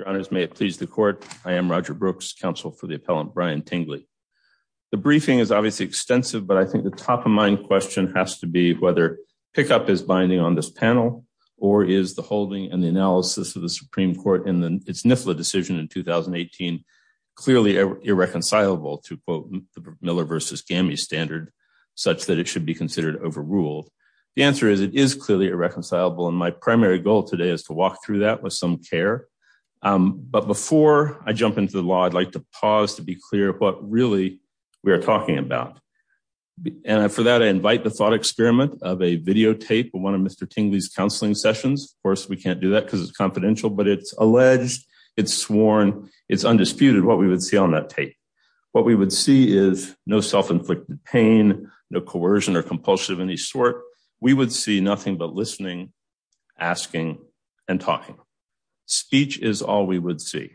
and Roger Brooks. May it please the court. I am Roger Brooks, counsel for the appellant Brian Tingley. The briefing is obviously extensive, but I think the top of mind question has to be whether pickup is binding on this panel, or is the holding and the analysis of the Supreme Court and then it's Nifla decision in 2018. Clearly irreconcilable to quote Miller versus gammy standard, such that it should be considered overruled. The answer is it is clearly irreconcilable and my primary goal today is to walk through that with some care. But before I jump into the law I'd like to pause to be clear what really we're talking about. And for that I invite the thought experiment of a videotape of one of Mr Tingley's counseling sessions, of course we can't do that because it's confidential but it's alleged it's sworn, it's undisputed what we would see on that tape. What we would see is no self inflicted pain, no coercion or compulsive any sort. We would see nothing but listening, asking, and talking speech is all we would see.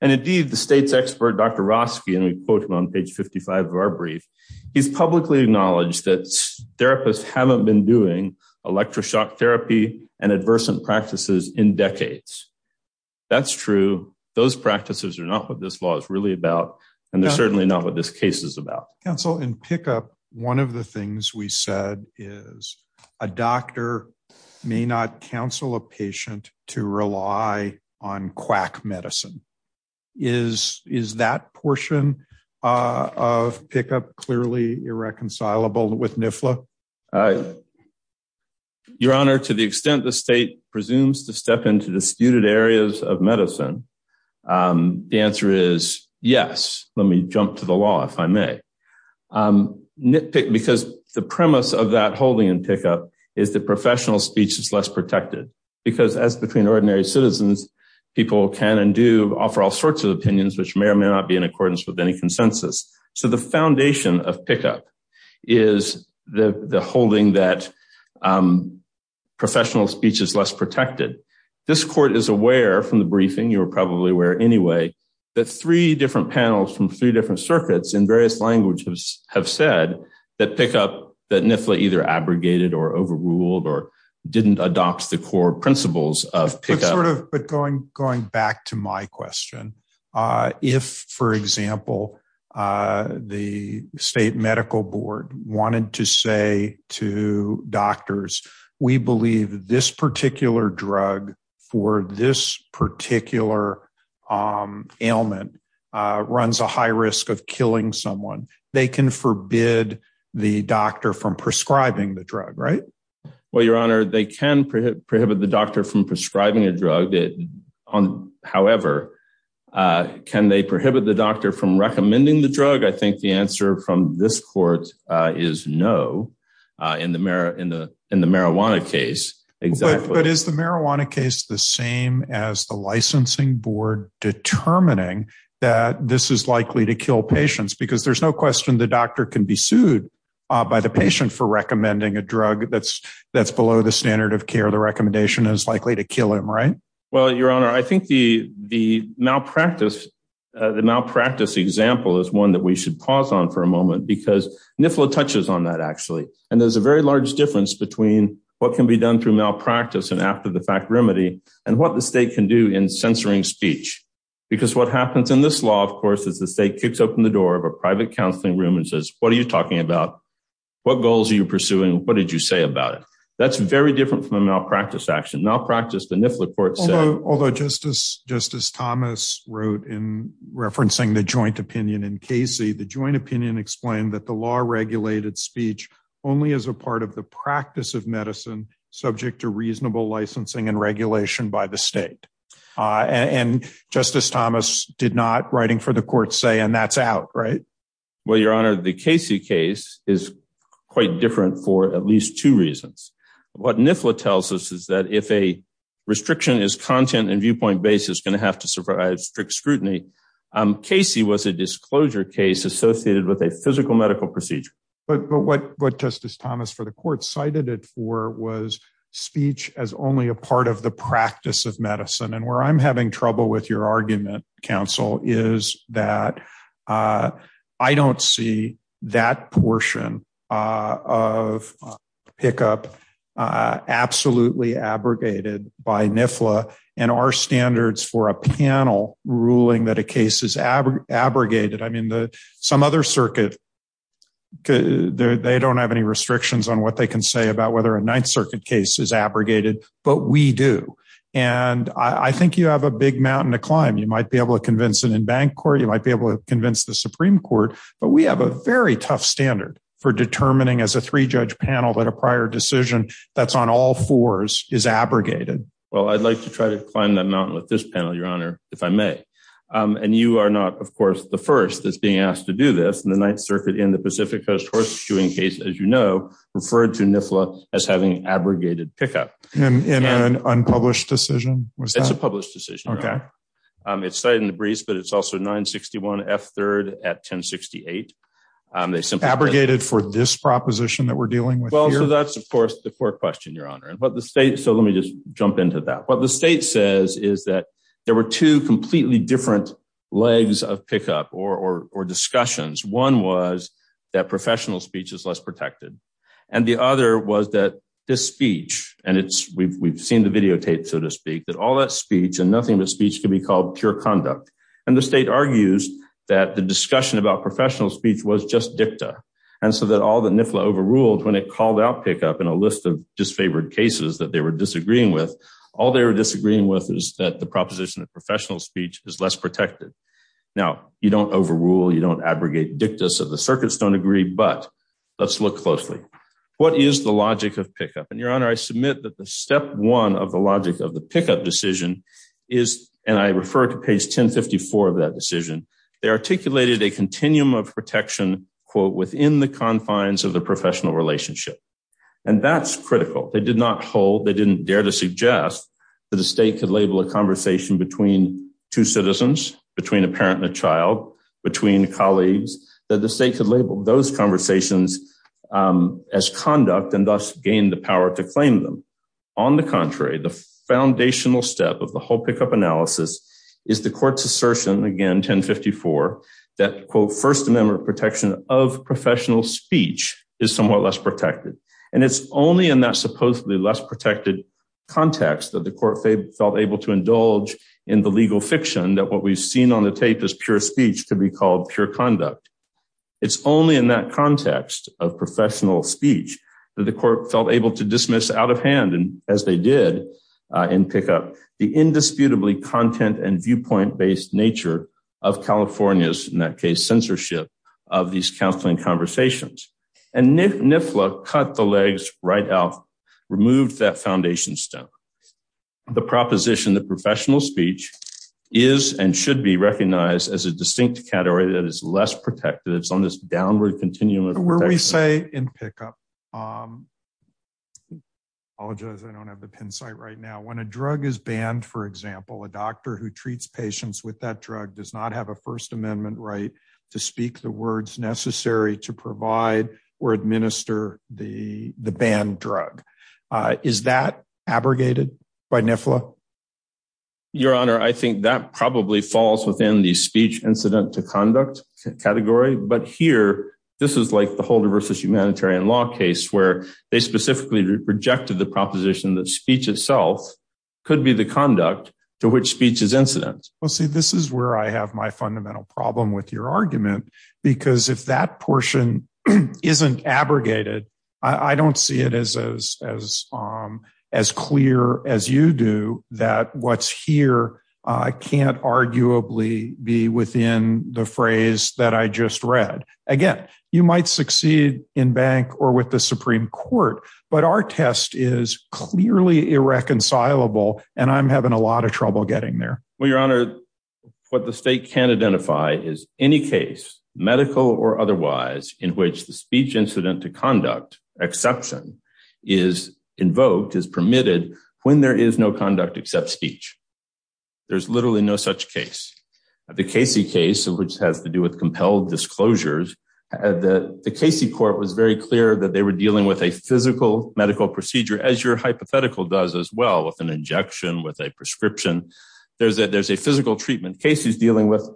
And indeed the state's expert Dr Roski and we quote him on page 55 of our brief. He's publicly acknowledged that therapists haven't been doing electroshock therapy and adverse and practices in decades. That's true. Those practices are not what this law is really about. And they're certainly not what this case is about. Council in pickup. One of the things we said is a doctor may not counsel a patient to rely on quack medicine is is that portion of pickup clearly irreconcilable with NIFLA. Your Honor, to the extent the state presumes to step into disputed areas of medicine. The answer is yes, let me jump to the law if I may nitpick because the premise of that holding and pickup is the professional speech is less protected, because as between ordinary citizens, people can and do offer all sorts of opinions which may or may not be in accordance with any consensus. So the foundation of pickup is the holding that professional speech is less protected. This court is aware from the briefing you're probably aware anyway that three different panels from three different circuits in various languages have said that pickup that NIFLA either abrogated or overruled or didn't adopt the core principles of pickup. Going back to my question, if, for example, the state medical board wanted to say to doctors, we believe this particular drug for this particular ailment runs a high risk of killing someone, they can forbid the doctor from prescribing the drug right. Well, Your Honor, they can prohibit the doctor from prescribing a drug. However, can they prohibit the doctor from recommending the drug? I think the answer from this court is no. In the marijuana case, exactly. But is the marijuana case the same as the licensing board determining that this is likely to kill patients? Because there's no question the doctor can be sued by the patient for recommending a drug that's below the standard of care. The recommendation is likely to kill him, right? Well, Your Honor, I think the malpractice example is one that we should pause on for a moment because NIFLA touches on that actually. And there's a very large difference between what can be done through malpractice and after the fact remedy and what the state can do in censoring speech. Because what happens in this law, of course, is the state kicks open the door of a private counseling room and says, what are you talking about? What goals are you pursuing? What did you say about it? That's very different from a malpractice action. Malpractice, the NIFLA court said. Although Justice Thomas wrote in referencing the joint opinion in Casey, the joint opinion explained that the law regulated speech only as a part of the practice of medicine subject to reasonable licensing and regulation by the state. And Justice Thomas did not, writing for the court, say and that's out, right? Well, Your Honor, the Casey case is quite different for at least two reasons. What NIFLA tells us is that if a restriction is content and viewpoint based, it's going to have to survive strict scrutiny. Casey was a disclosure case associated with a physical medical procedure. But what Justice Thomas for the court cited it for was speech as only a part of the practice of medicine. And where I'm having trouble with your argument, counsel, is that I don't see that portion of pickup absolutely abrogated by NIFLA and our standards for a panel ruling that a case is abrogated. I mean, some other circuit, they don't have any restrictions on what they can say about whether a Ninth Circuit case is abrogated, but we do. And I think you have a big mountain to climb. You might be able to convince it in bank court. You might be able to convince the Supreme Court. But we have a very tough standard for determining as a three judge panel that a prior decision that's on all fours is abrogated. Well, I'd like to try to climb that mountain with this panel, Your Honor, if I may. And you are not, of course, the first that's being asked to do this. And the Ninth Circuit in the Pacific Coast horseshoeing case, as you know, referred to NIFLA as having abrogated pickup. In an unpublished decision? It's a published decision. Okay. It's cited in the briefs, but it's also 961 F3rd at 1068. Abrogated for this proposition that we're dealing with here? So that's, of course, the core question, Your Honor. So let me just jump into that. What the state says is that there were two completely different legs of pickup or discussions. One was that professional speech is less protected. And the other was that this speech, and we've seen the videotapes, so to speak, that all that speech and nothing but speech can be called pure conduct. And the state argues that the discussion about professional speech was just dicta. And so that all that NIFLA overruled when it called out pickup in a list of disfavored cases that they were disagreeing with, all they were disagreeing with is that the proposition of professional speech is less protected. Now, you don't overrule, you don't abrogate dicta, so the circuits don't agree, but let's look closely. What is the logic of pickup? And, Your Honor, I submit that the step one of the logic of the pickup decision is, and I refer to page 1054 of that decision, they articulated a continuum of protection, quote, within the confines of the professional relationship. And that's critical. They did not hold, they didn't dare to suggest that the state could label a conversation between two citizens, between a parent and a child, between colleagues, that the state could label those conversations as conduct and thus gain the power to claim them. On the contrary, the foundational step of the whole pickup analysis is the court's assertion, again, 1054, that, quote, first amendment protection of professional speech is somewhat less protected. And it's only in that supposedly less protected context that the court felt able to indulge in the legal fiction that what we've seen on the tape as pure speech to be called pure conduct. It's only in that context of professional speech that the court felt able to dismiss out of hand, as they did in pickup, the indisputably content and viewpoint based nature of California's, in that case, censorship of these counseling conversations. And NIFLA cut the legs right out, removed that foundation stone. The proposition that professional speech is and should be recognized as a distinct category that is less protected, it's on this downward continuum of protection. I'm going to say in pickup, I apologize, I don't have the pin site right now, when a drug is banned, for example, a doctor who treats patients with that drug does not have a first amendment right to speak the words necessary to provide or administer the banned drug. Is that abrogated by NIFLA? Your Honor, I think that probably falls within the speech incident to conduct category. But here, this is like the Holder versus humanitarian law case where they specifically rejected the proposition that speech itself could be the conduct to which speech is incident. Well, see, this is where I have my fundamental problem with your argument. Because if that portion isn't abrogated, I don't see it as clear as you do that what's here can't arguably be within the phrase that I just read. Again, you might succeed in bank or with the Supreme Court, but our test is clearly irreconcilable. And I'm having a lot of trouble getting there. Well, Your Honor, what the state can't identify is any case, medical or otherwise, in which the speech incident to conduct exception is invoked, is permitted, when there is no conduct except speech. There's literally no such case. The Casey case, which has to do with compelled disclosures, the Casey court was very clear that they were dealing with a physical medical procedure as your hypothetical does as well with an injection with a prescription. There's a physical treatment case who's dealing with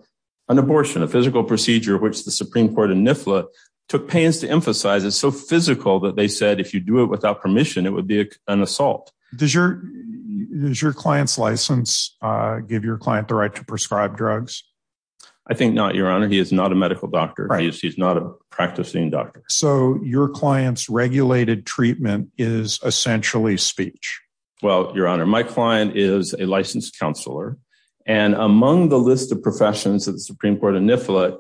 an abortion, a physical procedure, which the Supreme Court and NIFLA took pains to emphasize is so physical that they said if you do it without permission, it would be an assault. Does your client's license give your client the right to prescribe drugs? I think not, Your Honor. He is not a medical doctor. He's not a practicing doctor. So your client's regulated treatment is essentially speech. Well, Your Honor, my client is a licensed counselor. And among the list of professions that the Supreme Court and NIFLA,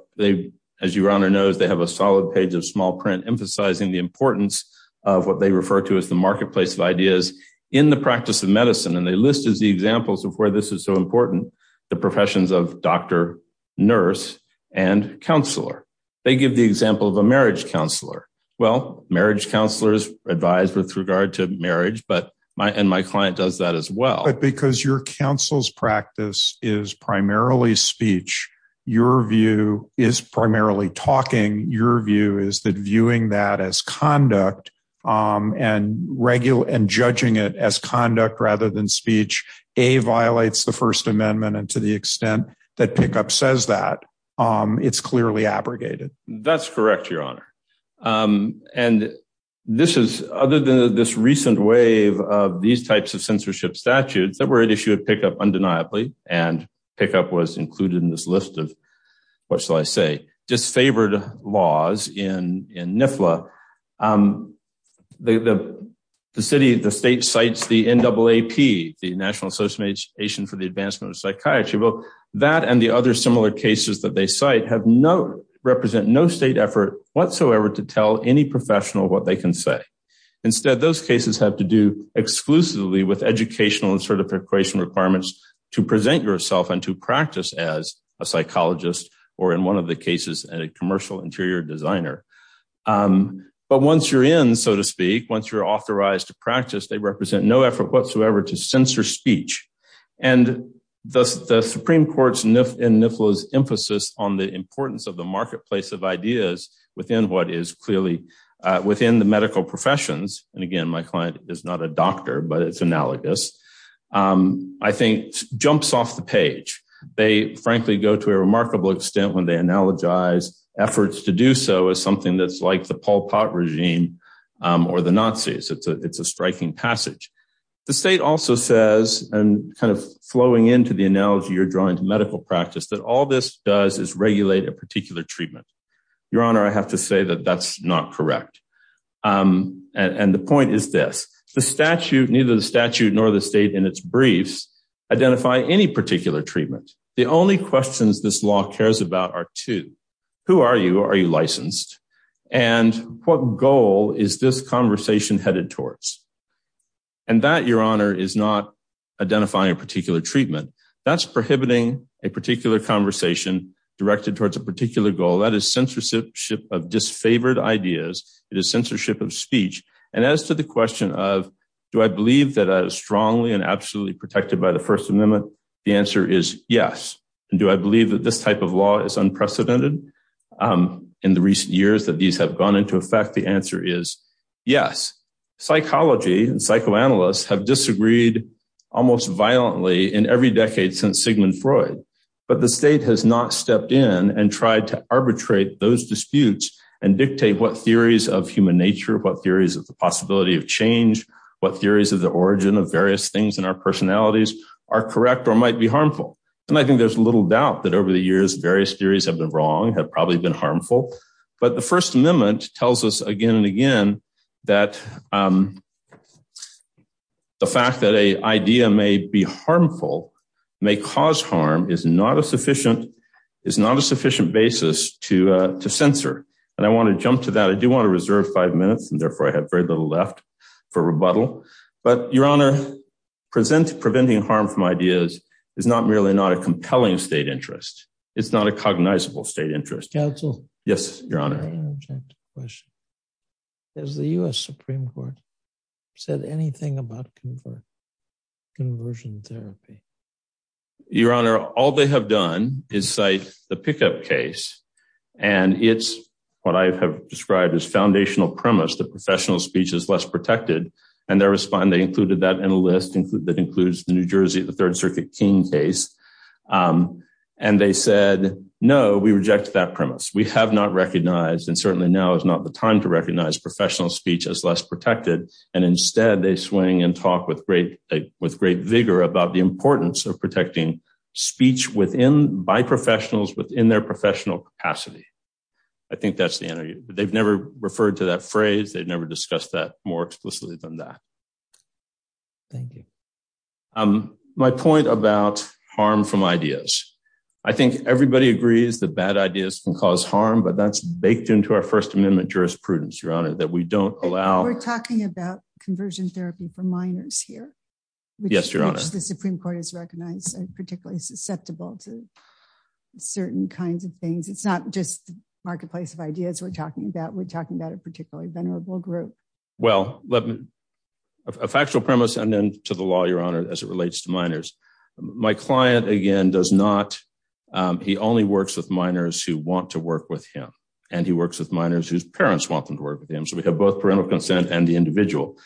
as Your Honor knows, they have a solid page of small print emphasizing the importance of what they refer to as the marketplace of ideas in the practice of medicine. And they list as the examples of where this is so important, the professions of doctor, nurse, and counselor. They give the example of a marriage counselor. Well, marriage counselors advise with regard to marriage, but my and my client does that as well. But because your counsel's practice is primarily speech, your view is primarily talking. Your view is that viewing that as conduct and regular and judging it as conduct rather than speech, a violates the First Amendment. And to the extent that pickup says that it's clearly abrogated. That's correct, Your Honor. And this is other than this recent wave of these types of censorship statutes that were issued pickup undeniably and pickup was included in this list of, what shall I say, disfavored laws in NIFLA. The city, the state cites the NAAP, the National Association for the Advancement of Psychiatry. Well, that and the other similar cases that they cite have no, represent no state effort whatsoever to tell any professional what they can say. Instead, those cases have to do exclusively with educational and certification requirements to present yourself and to practice as a psychologist or in one of the cases, a commercial interior designer. But once you're in, so to speak, once you're authorized to practice, they represent no effort whatsoever to censor speech. And the Supreme Court's NIFLA's emphasis on the importance of the marketplace of ideas within what is clearly within the medical professions. And again, my client is not a doctor, but it's analogous, I think, jumps off the page. They frankly go to a remarkable extent when they analogize efforts to do so as something that's like the Pol Pot regime or the Nazis. It's a striking passage. The state also says, and kind of flowing into the analogy you're drawing to medical practice, that all this does is regulate a particular treatment. Your Honor, I have to say that that's not correct. And the point is this, the statute, neither the statute nor the state in its briefs, identify any particular treatment. The only questions this law cares about are two. Who are you? Are you licensed? And what goal is this conversation headed towards? And that, Your Honor, is not identifying a particular treatment. That's prohibiting a particular conversation directed towards a particular goal. That is censorship of disfavored ideas. It is censorship of speech. And as to the question of do I believe that is strongly and absolutely protected by the First Amendment? The answer is yes. And do I believe that this type of law is unprecedented in the recent years that these have gone into effect? The answer is yes. Psychology and psychoanalysts have disagreed almost violently in every decade since Sigmund Freud. But the state has not stepped in and tried to arbitrate those disputes and dictate what theories of human nature, what theories of the possibility of change, what theories of the origin of various things in our personalities are correct or might be harmful. And I think there's little doubt that over the years, various theories have been wrong, have probably been harmful. But the First Amendment tells us again and again that the fact that a idea may be harmful, may cause harm, is not a sufficient basis to censor. And I want to jump to that. I do want to reserve five minutes, and therefore I have very little left for rebuttal. But, Your Honor, preventing harm from ideas is not merely not a compelling state interest. It's not a cognizable state interest. Counsel? Yes, Your Honor. May I interject a question? Has the U.S. Supreme Court said anything about conversion therapy? Your Honor, all they have done is cite the pickup case. And it's what I have described as foundational premise that professional speech is less protected. And they included that in a list that includes the New Jersey, the Third Circuit King case. And they said, no, we reject that premise. We have not recognized and certainly now is not the time to recognize professional speech as less protected. And instead, they swing and talk with great vigor about the importance of protecting speech by professionals within their professional capacity. I think that's the interview, but they've never referred to that phrase. They've never discussed that more explicitly than that. Thank you. My point about harm from ideas. I think everybody agrees that bad ideas can cause harm, but that's baked into our First Amendment jurisprudence, Your Honor, that we don't allow. We're talking about conversion therapy for minors here. Yes, Your Honor. Which the Supreme Court has recognized as particularly susceptible to certain kinds of things. It's not just the marketplace of ideas we're talking about. We're talking about a particularly venerable group. Well, a factual premise and then to the law, Your Honor, as it relates to minors. My client, again, does not. He only works with minors who want to work with him. And he works with minors whose parents want them to work with him. So we have both parental consent and the individual.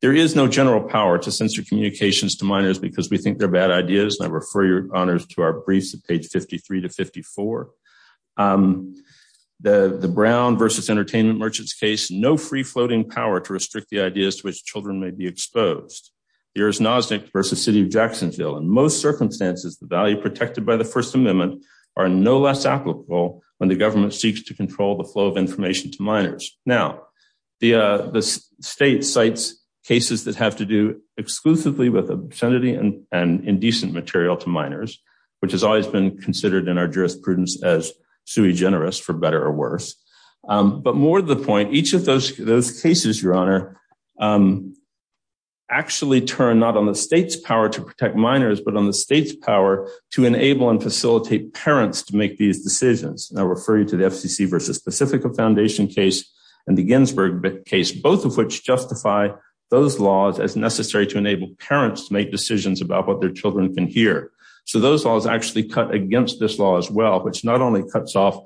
There is no general power to censor communications to minors because we think they're bad ideas. And I refer, Your Honor, to our briefs at page 53 to 54. The Brown versus Entertainment Merchants case. No free floating power to restrict the ideas to which children may be exposed. Here is Nozick versus City of Jacksonville. In most circumstances, the value protected by the First Amendment are no less applicable when the government seeks to control the flow of information to minors. Now, the state cites cases that have to do exclusively with obscenity and indecent material to minors, which has always been considered in our jurisprudence as sui generis, for better or worse. But more to the point, each of those cases, Your Honor, actually turn not on the state's power to protect minors, but on the state's power to enable and facilitate parents to make these decisions. And I refer you to the FCC versus Pacifica Foundation case and the Ginsburg case, both of which justify those laws as necessary to enable parents to make decisions about what their children can hear. So those laws actually cut against this law as well, which not only cuts off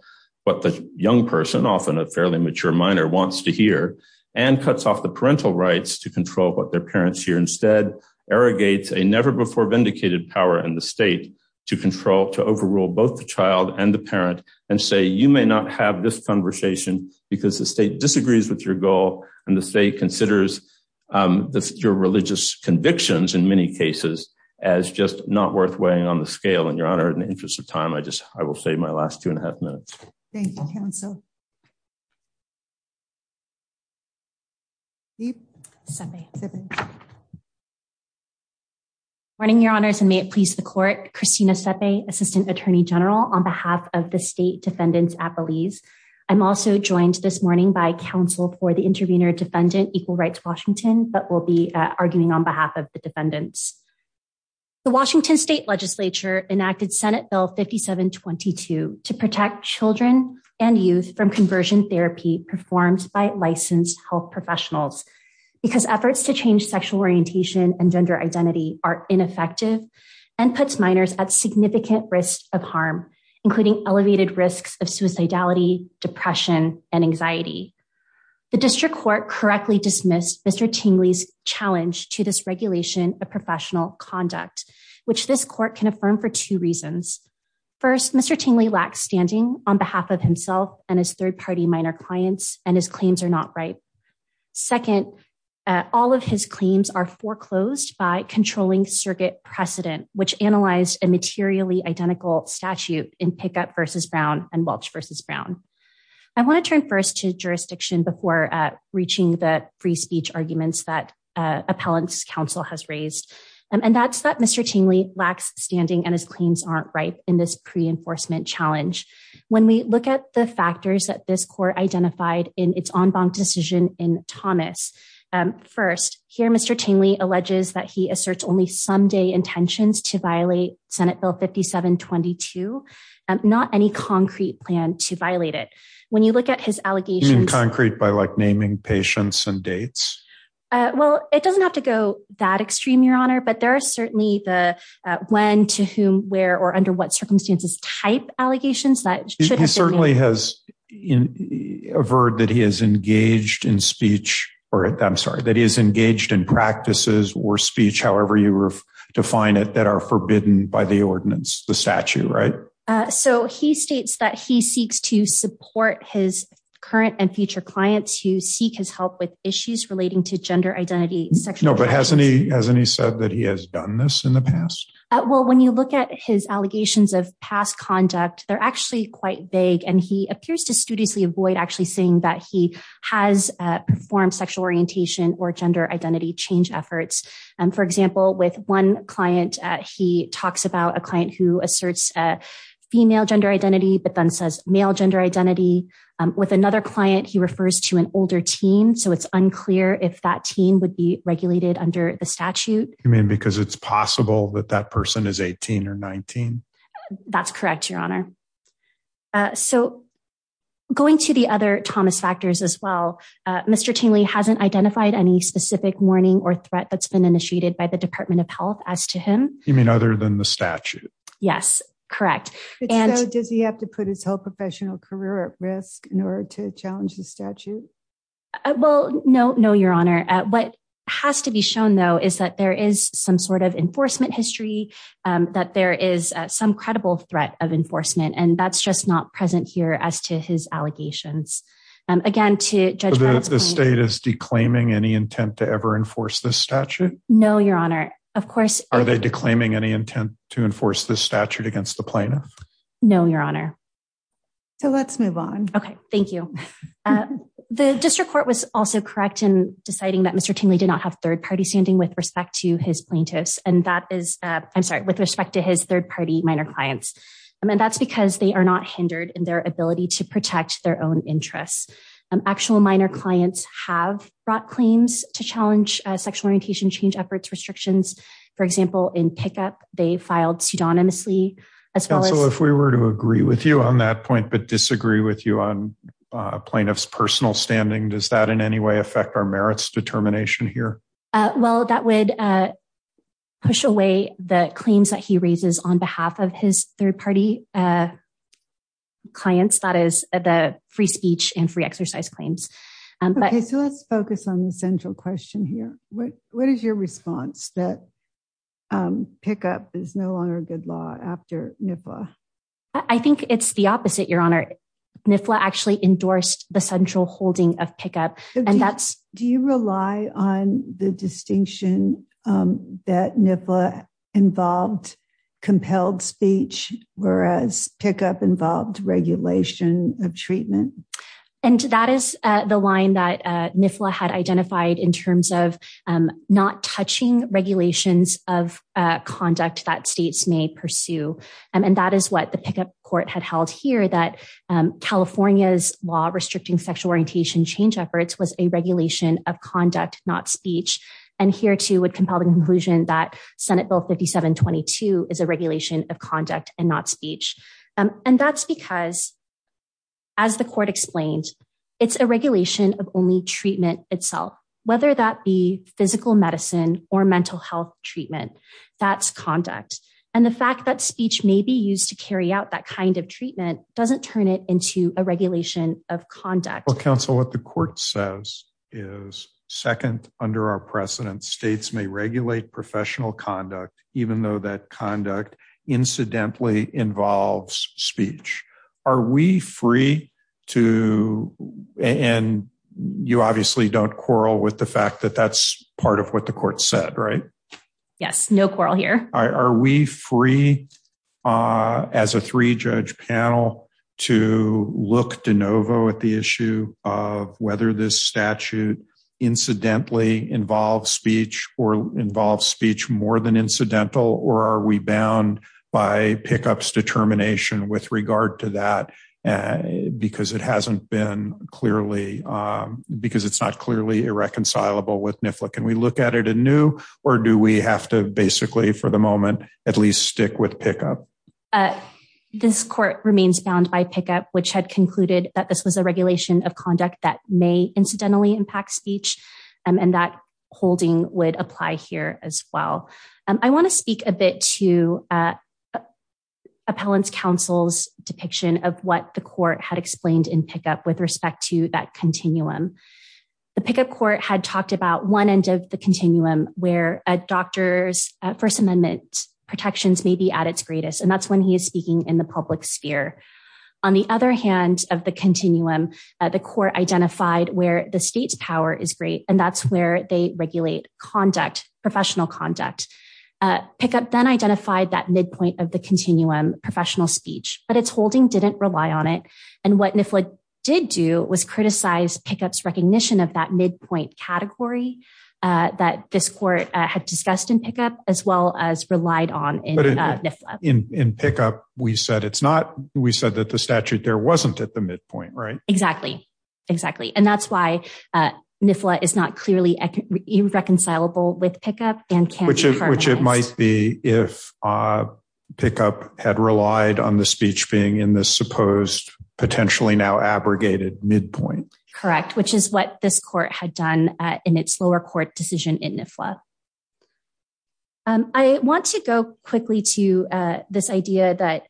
what the young person, often a fairly mature minor, wants to hear, and cuts off the parental rights to control what their parents hear. And say you may not have this conversation because the state disagrees with your goal. And the state considers your religious convictions in many cases as just not worth weighing on the scale. And Your Honor, in the interest of time, I just I will say my last two and a half minutes. Thank you, counsel. Morning, Your Honors, and may it please the court. Christina Sepe, Assistant Attorney General on behalf of the state defendants at Belize. I'm also joined this morning by counsel for the intervener defendant, Equal Rights Washington, but will be arguing on behalf of the defendants. The Washington State Legislature enacted Senate Bill 5722 to protect children and youth from conversion therapy performed by licensed health professionals. Because efforts to change sexual orientation and gender identity are ineffective and puts minors at significant risk of harm, including elevated risks of suicidality, depression and anxiety. The district court correctly dismissed Mr. Tingley's challenge to this regulation of professional conduct, which this court can affirm for two reasons. First, Mr. Tingley lacks standing on behalf of himself and his third party minor clients and his claims are not right. Second, all of his claims are foreclosed by controlling circuit precedent, which analyzed a materially identical statute in pickup versus Brown and Welch versus Brown. I want to turn first to jurisdiction before reaching the free speech arguments that appellant's counsel has raised. And that's that Mr. Tingley lacks standing and his claims aren't right in this pre enforcement challenge. When we look at the factors that this court identified in its en banc decision in Thomas. First here, Mr. Tingley alleges that he asserts only someday intentions to violate Senate Bill 5722, not any concrete plan to violate it. When you look at his allegations in concrete by like naming patients and dates. Well, it doesn't have to go that extreme, Your Honor, but there are certainly the when, to whom, where or under what circumstances type allegations that. He certainly has a word that he is engaged in speech or I'm sorry, that is engaged in practices or speech, however you define it, that are forbidden by the ordinance, the statute. Right. So he states that he seeks to support his current and future clients who seek his help with issues relating to gender identity. No, but hasn't he hasn't he said that he has done this in the past? Well, when you look at his allegations of past conduct, they're actually quite vague and he appears to studiously avoid actually saying that he has performed sexual orientation or gender identity change efforts. And for example, with one client, he talks about a client who asserts female gender identity but then says male gender identity with another client he refers to an older teen so it's unclear if that teen would be regulated under the statute. I mean because it's possible that that person is 18 or 19. That's correct, Your Honor. So, going to the other Thomas factors as well. Mr. Tingley hasn't identified any specific warning or threat that's been initiated by the Department of Health as to him, you mean other than the statute. Yes, correct. And does he have to put his whole professional career at risk in order to challenge the statute. Well, no, no, Your Honor, what has to be shown though is that there is some sort of enforcement history that there is some credible threat of enforcement and that's just not present here as to his allegations. And again to judge the state is declaiming any intent to ever enforce the statute. No, Your Honor. Of course, are they declaiming any intent to enforce the statute against the plaintiff. No, Your Honor. So let's move on. Okay, thank you. The district court was also correct in deciding that Mr Tingley did not have third party standing with respect to his plaintiffs, and that is, I'm sorry, with respect to his third party minor clients. And that's because they are not hindered in their ability to protect their own interests and actual minor clients have brought claims to challenge sexual orientation change efforts restrictions. For example, in pickup, they filed pseudonymously as well as if we were to agree with you on that point but disagree with you on plaintiffs personal standing does that in any way affect our merits determination here. Well, that would push away the claims that he raises on behalf of his third party clients that is the free speech and free exercise claims. Okay, so let's focus on the central question here. What, what is your response that pickup is no longer good law after NIFA. I think it's the opposite, Your Honor, NIFA actually endorsed the central holding of pickup. And that's, do you rely on the distinction that NIFA involved compelled speech, whereas pickup involved regulation of treatment. And that is the line that NIFA had identified in terms of not touching regulations of conduct that states may pursue. And that is what the pickup court had held here that California's law restricting sexual orientation change efforts was a regulation of conduct, not speech. And here to would compel the conclusion that Senate Bill 5722 is a regulation of conduct and not speech. And that's because, as the court explained, it's a regulation of only treatment itself, whether that be physical medicine or mental health treatment. That's conduct. And the fact that speech may be used to carry out that kind of treatment doesn't turn it into a regulation of conduct. Well, counsel, what the court says is second under our precedent states may regulate professional conduct, even though that conduct incidentally involves speech. Are we free to, and you obviously don't quarrel with the fact that that's part of what the court said, right? Yes, no quarrel here. Are we free as a three-judge panel to look de novo at the issue of whether this statute incidentally involves speech or involves speech more than incidental? Or are we bound by pickups determination with regard to that? Because it hasn't been clearly, because it's not clearly irreconcilable with NIFLA. Can we look at it anew? Or do we have to basically for the moment, at least stick with pickup? This court remains bound by pickup, which had concluded that this was a regulation of conduct that may incidentally impact speech. And that holding would apply here as well. I want to speak a bit to Appellant's counsel's depiction of what the court had explained in pickup with respect to that continuum. The pickup court had talked about one end of the continuum where a doctor's First Amendment protections may be at its greatest. And that's when he is speaking in the public sphere. On the other hand of the continuum, the court identified where the state's power is great. And that's where they regulate conduct, professional conduct. Pickup then identified that midpoint of the continuum, professional speech, but it's holding didn't rely on it. And what NIFLA did do was criticize pickups recognition of that midpoint category that this court had discussed in pickup, as well as relied on in NIFLA. In pickup, we said it's not, we said that the statute there wasn't at the midpoint, right? Exactly, exactly. And that's why NIFLA is not clearly reconcilable with pickup and can be harmonized. Which it might be if pickup had relied on the speech being in this supposed, potentially now abrogated midpoint. Correct, which is what this court had done in its lower court decision in NIFLA. I want to go quickly to this idea that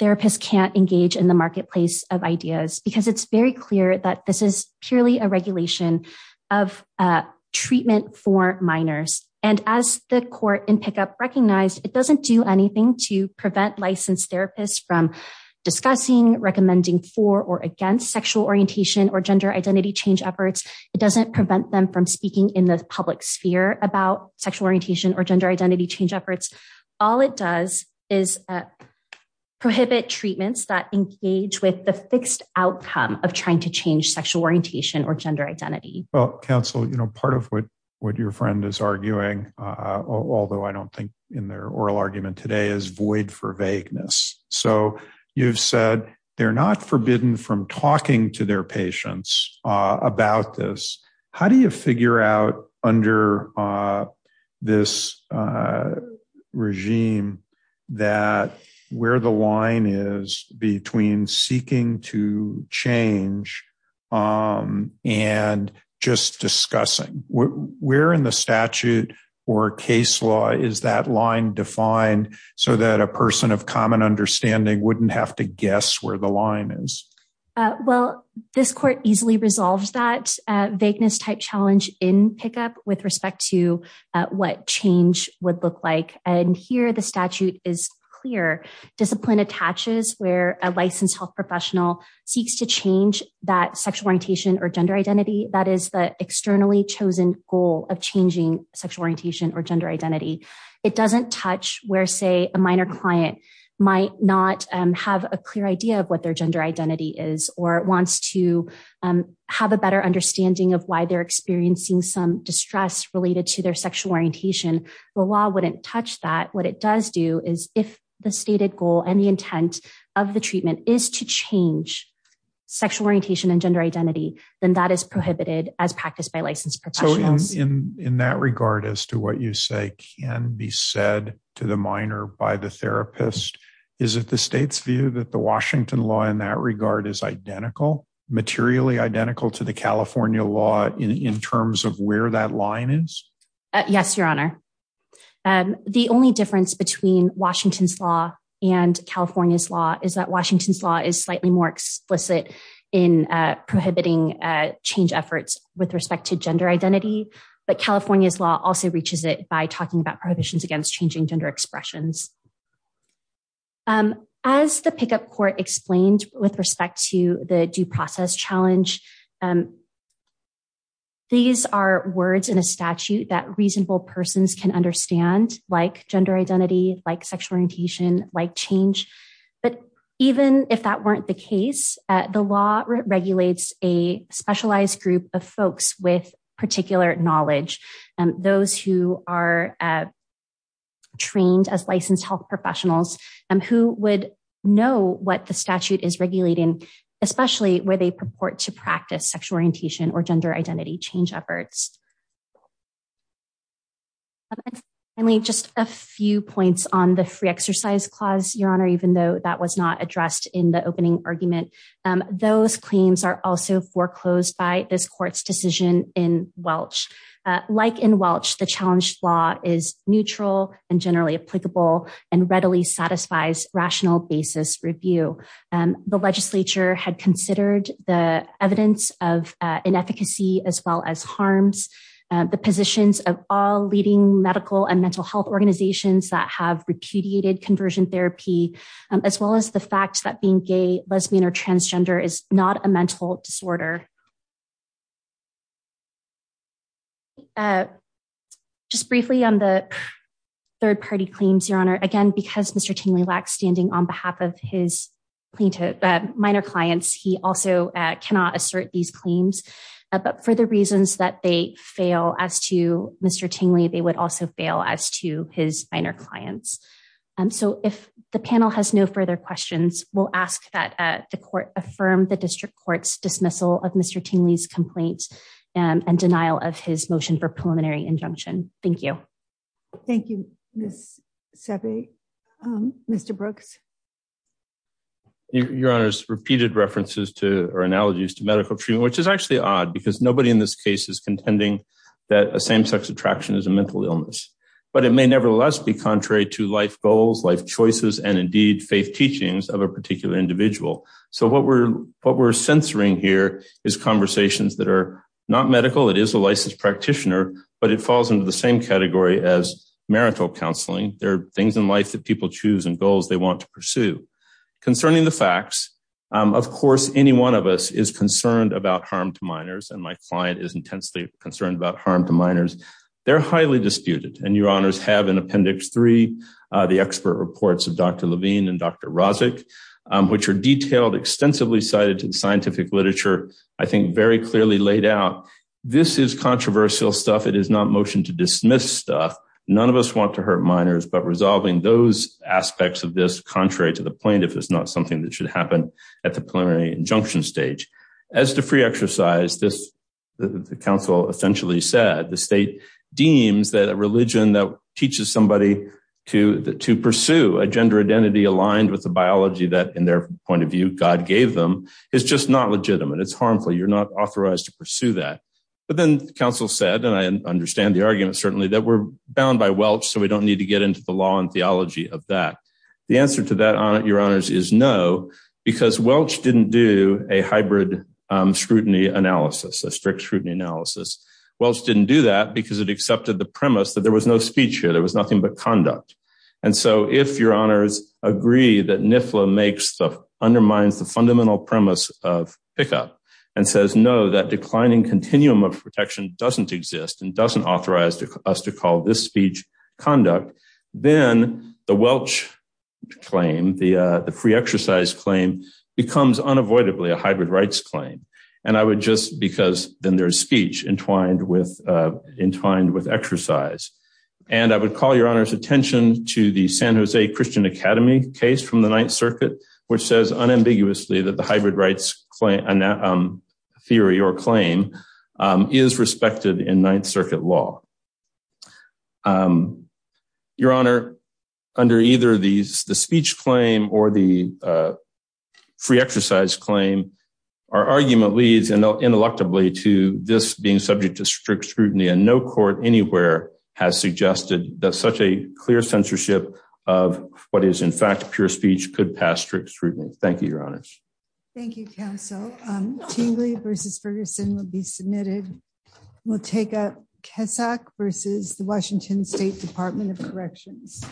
therapists can't engage in the marketplace of ideas, because it's very clear that this is purely a regulation of treatment for minors. And as the court in pickup recognized, it doesn't do anything to prevent licensed therapists from discussing, recommending for or against sexual orientation or gender identity change efforts. It doesn't prevent them from speaking in the public sphere about sexual orientation or gender identity change efforts. All it does is prohibit treatments that engage with the fixed outcome of trying to change sexual orientation or gender identity. Well, counsel, you know, part of what your friend is arguing, although I don't think in their oral argument today is void for vagueness. So you've said they're not forbidden from talking to their patients about this. How do you figure out under this regime that where the line is between seeking to change and just discussing? Where in the statute or case law is that line defined so that a person of common understanding wouldn't have to guess where the line is? Well, this court easily resolves that vagueness type challenge in pickup with respect to what change would look like. And here the statute is clear. Discipline attaches where a licensed health professional seeks to change that sexual orientation or gender identity. That is the externally chosen goal of changing sexual orientation or gender identity. It doesn't touch where, say, a minor client might not have a clear idea of what their gender identity is or wants to have a better understanding of why they're experiencing some distress related to their sexual orientation. The law wouldn't touch that. What it does do is if the stated goal and the intent of the treatment is to change sexual orientation and gender identity, then that is prohibited as practiced by licensed professionals. In that regard, as to what you say can be said to the minor by the therapist, is it the state's view that the Washington law in that regard is identical, materially identical to the California law in terms of where that line is? Yes, Your Honor. The only difference between Washington's law and California's law is that Washington's law is slightly more explicit in prohibiting change efforts with respect to gender identity. But California's law also reaches it by talking about prohibitions against changing gender expressions. As the pickup court explained with respect to the due process challenge, these are words in a statute that reasonable persons can understand, like gender identity, like sexual orientation, like change. But even if that weren't the case, the law regulates a specialized group of folks with particular knowledge. Those who are trained as licensed health professionals who would know what the statute is regulating, especially where they purport to practice sexual orientation or gender identity change efforts. Finally, just a few points on the free exercise clause, Your Honor, even though that was not addressed in the opening argument. Those claims are also foreclosed by this court's decision in Welch. Like in Welch, the challenge law is neutral and generally applicable and readily satisfies rational basis review. The legislature had considered the evidence of inefficacy as well as harms, the positions of all leading medical and mental health organizations that have repudiated conversion therapy, as well as the fact that being gay, lesbian or transgender is not a mental disorder. Just briefly on the third party claims, Your Honor, again, because Mr. Tingley lacks standing on behalf of his minor clients, he also cannot assert these claims, but for the reasons that they fail as to Mr. Tingley, they would also fail as to his minor clients. So if the panel has no further questions, we'll ask that the court affirm the district court's dismissal of Mr. Tingley's complaints and denial of his motion for preliminary injunction. Thank you. Thank you, Ms. Seve. Mr. Brooks. Your Honor's repeated references to or analogies to medical treatment, which is actually odd because nobody in this case is contending that a same sex attraction is a mental illness, but it may nevertheless be contrary to life goals, life choices, and indeed faith teachings of a particular individual. So what we're what we're censoring here is conversations that are not medical. It is a licensed practitioner, but it falls into the same category as marital counseling. There are things in life that people choose and goals they want to pursue. Concerning the facts, of course, any one of us is concerned about harm to minors, and my client is intensely concerned about harm to minors. They're highly disputed, and Your Honors have in Appendix 3, the expert reports of Dr. Levine and Dr. Rozic, which are detailed, extensively cited in scientific literature, I think very clearly laid out. This is controversial stuff. It is not motion to dismiss stuff. None of us want to hurt minors, but resolving those aspects of this, contrary to the plaintiff, is not something that should happen at the preliminary injunction stage. As to free exercise, the counsel essentially said, the state deems that a religion that teaches somebody to pursue a gender identity aligned with the biology that, in their point of view, God gave them is just not legitimate. It's harmful. You're not authorized to pursue that. But then the counsel said, and I understand the argument, certainly, that we're bound by Welch, so we don't need to get into the law and theology of that. The answer to that, Your Honors, is no, because Welch didn't do a hybrid scrutiny analysis, a strict scrutiny analysis. Welch didn't do that because it accepted the premise that there was no speech here. There was nothing but conduct. And so if Your Honors agree that NIFLA undermines the fundamental premise of pickup and says, no, that declining continuum of protection doesn't exist and doesn't authorize us to call this speech conduct, then the Welch claim, the free exercise claim, becomes unavoidably a hybrid rights claim. And I would just, because then there's speech entwined with exercise. And I would call Your Honors attention to the San Jose Christian Academy case from the Ninth Circuit, which says unambiguously that the hybrid rights theory or claim is respected in Ninth Circuit law. Your Honor, under either the speech claim or the free exercise claim, our argument leads, intellectually, to this being subject to strict scrutiny. And no court anywhere has suggested that such a clear censorship of what is, in fact, pure speech could pass strict scrutiny. Thank you, Your Honors. Thank you, Counsel. Tingley v. Ferguson will be submitted. We'll take up Kesak v. the Washington State Department of Corrections.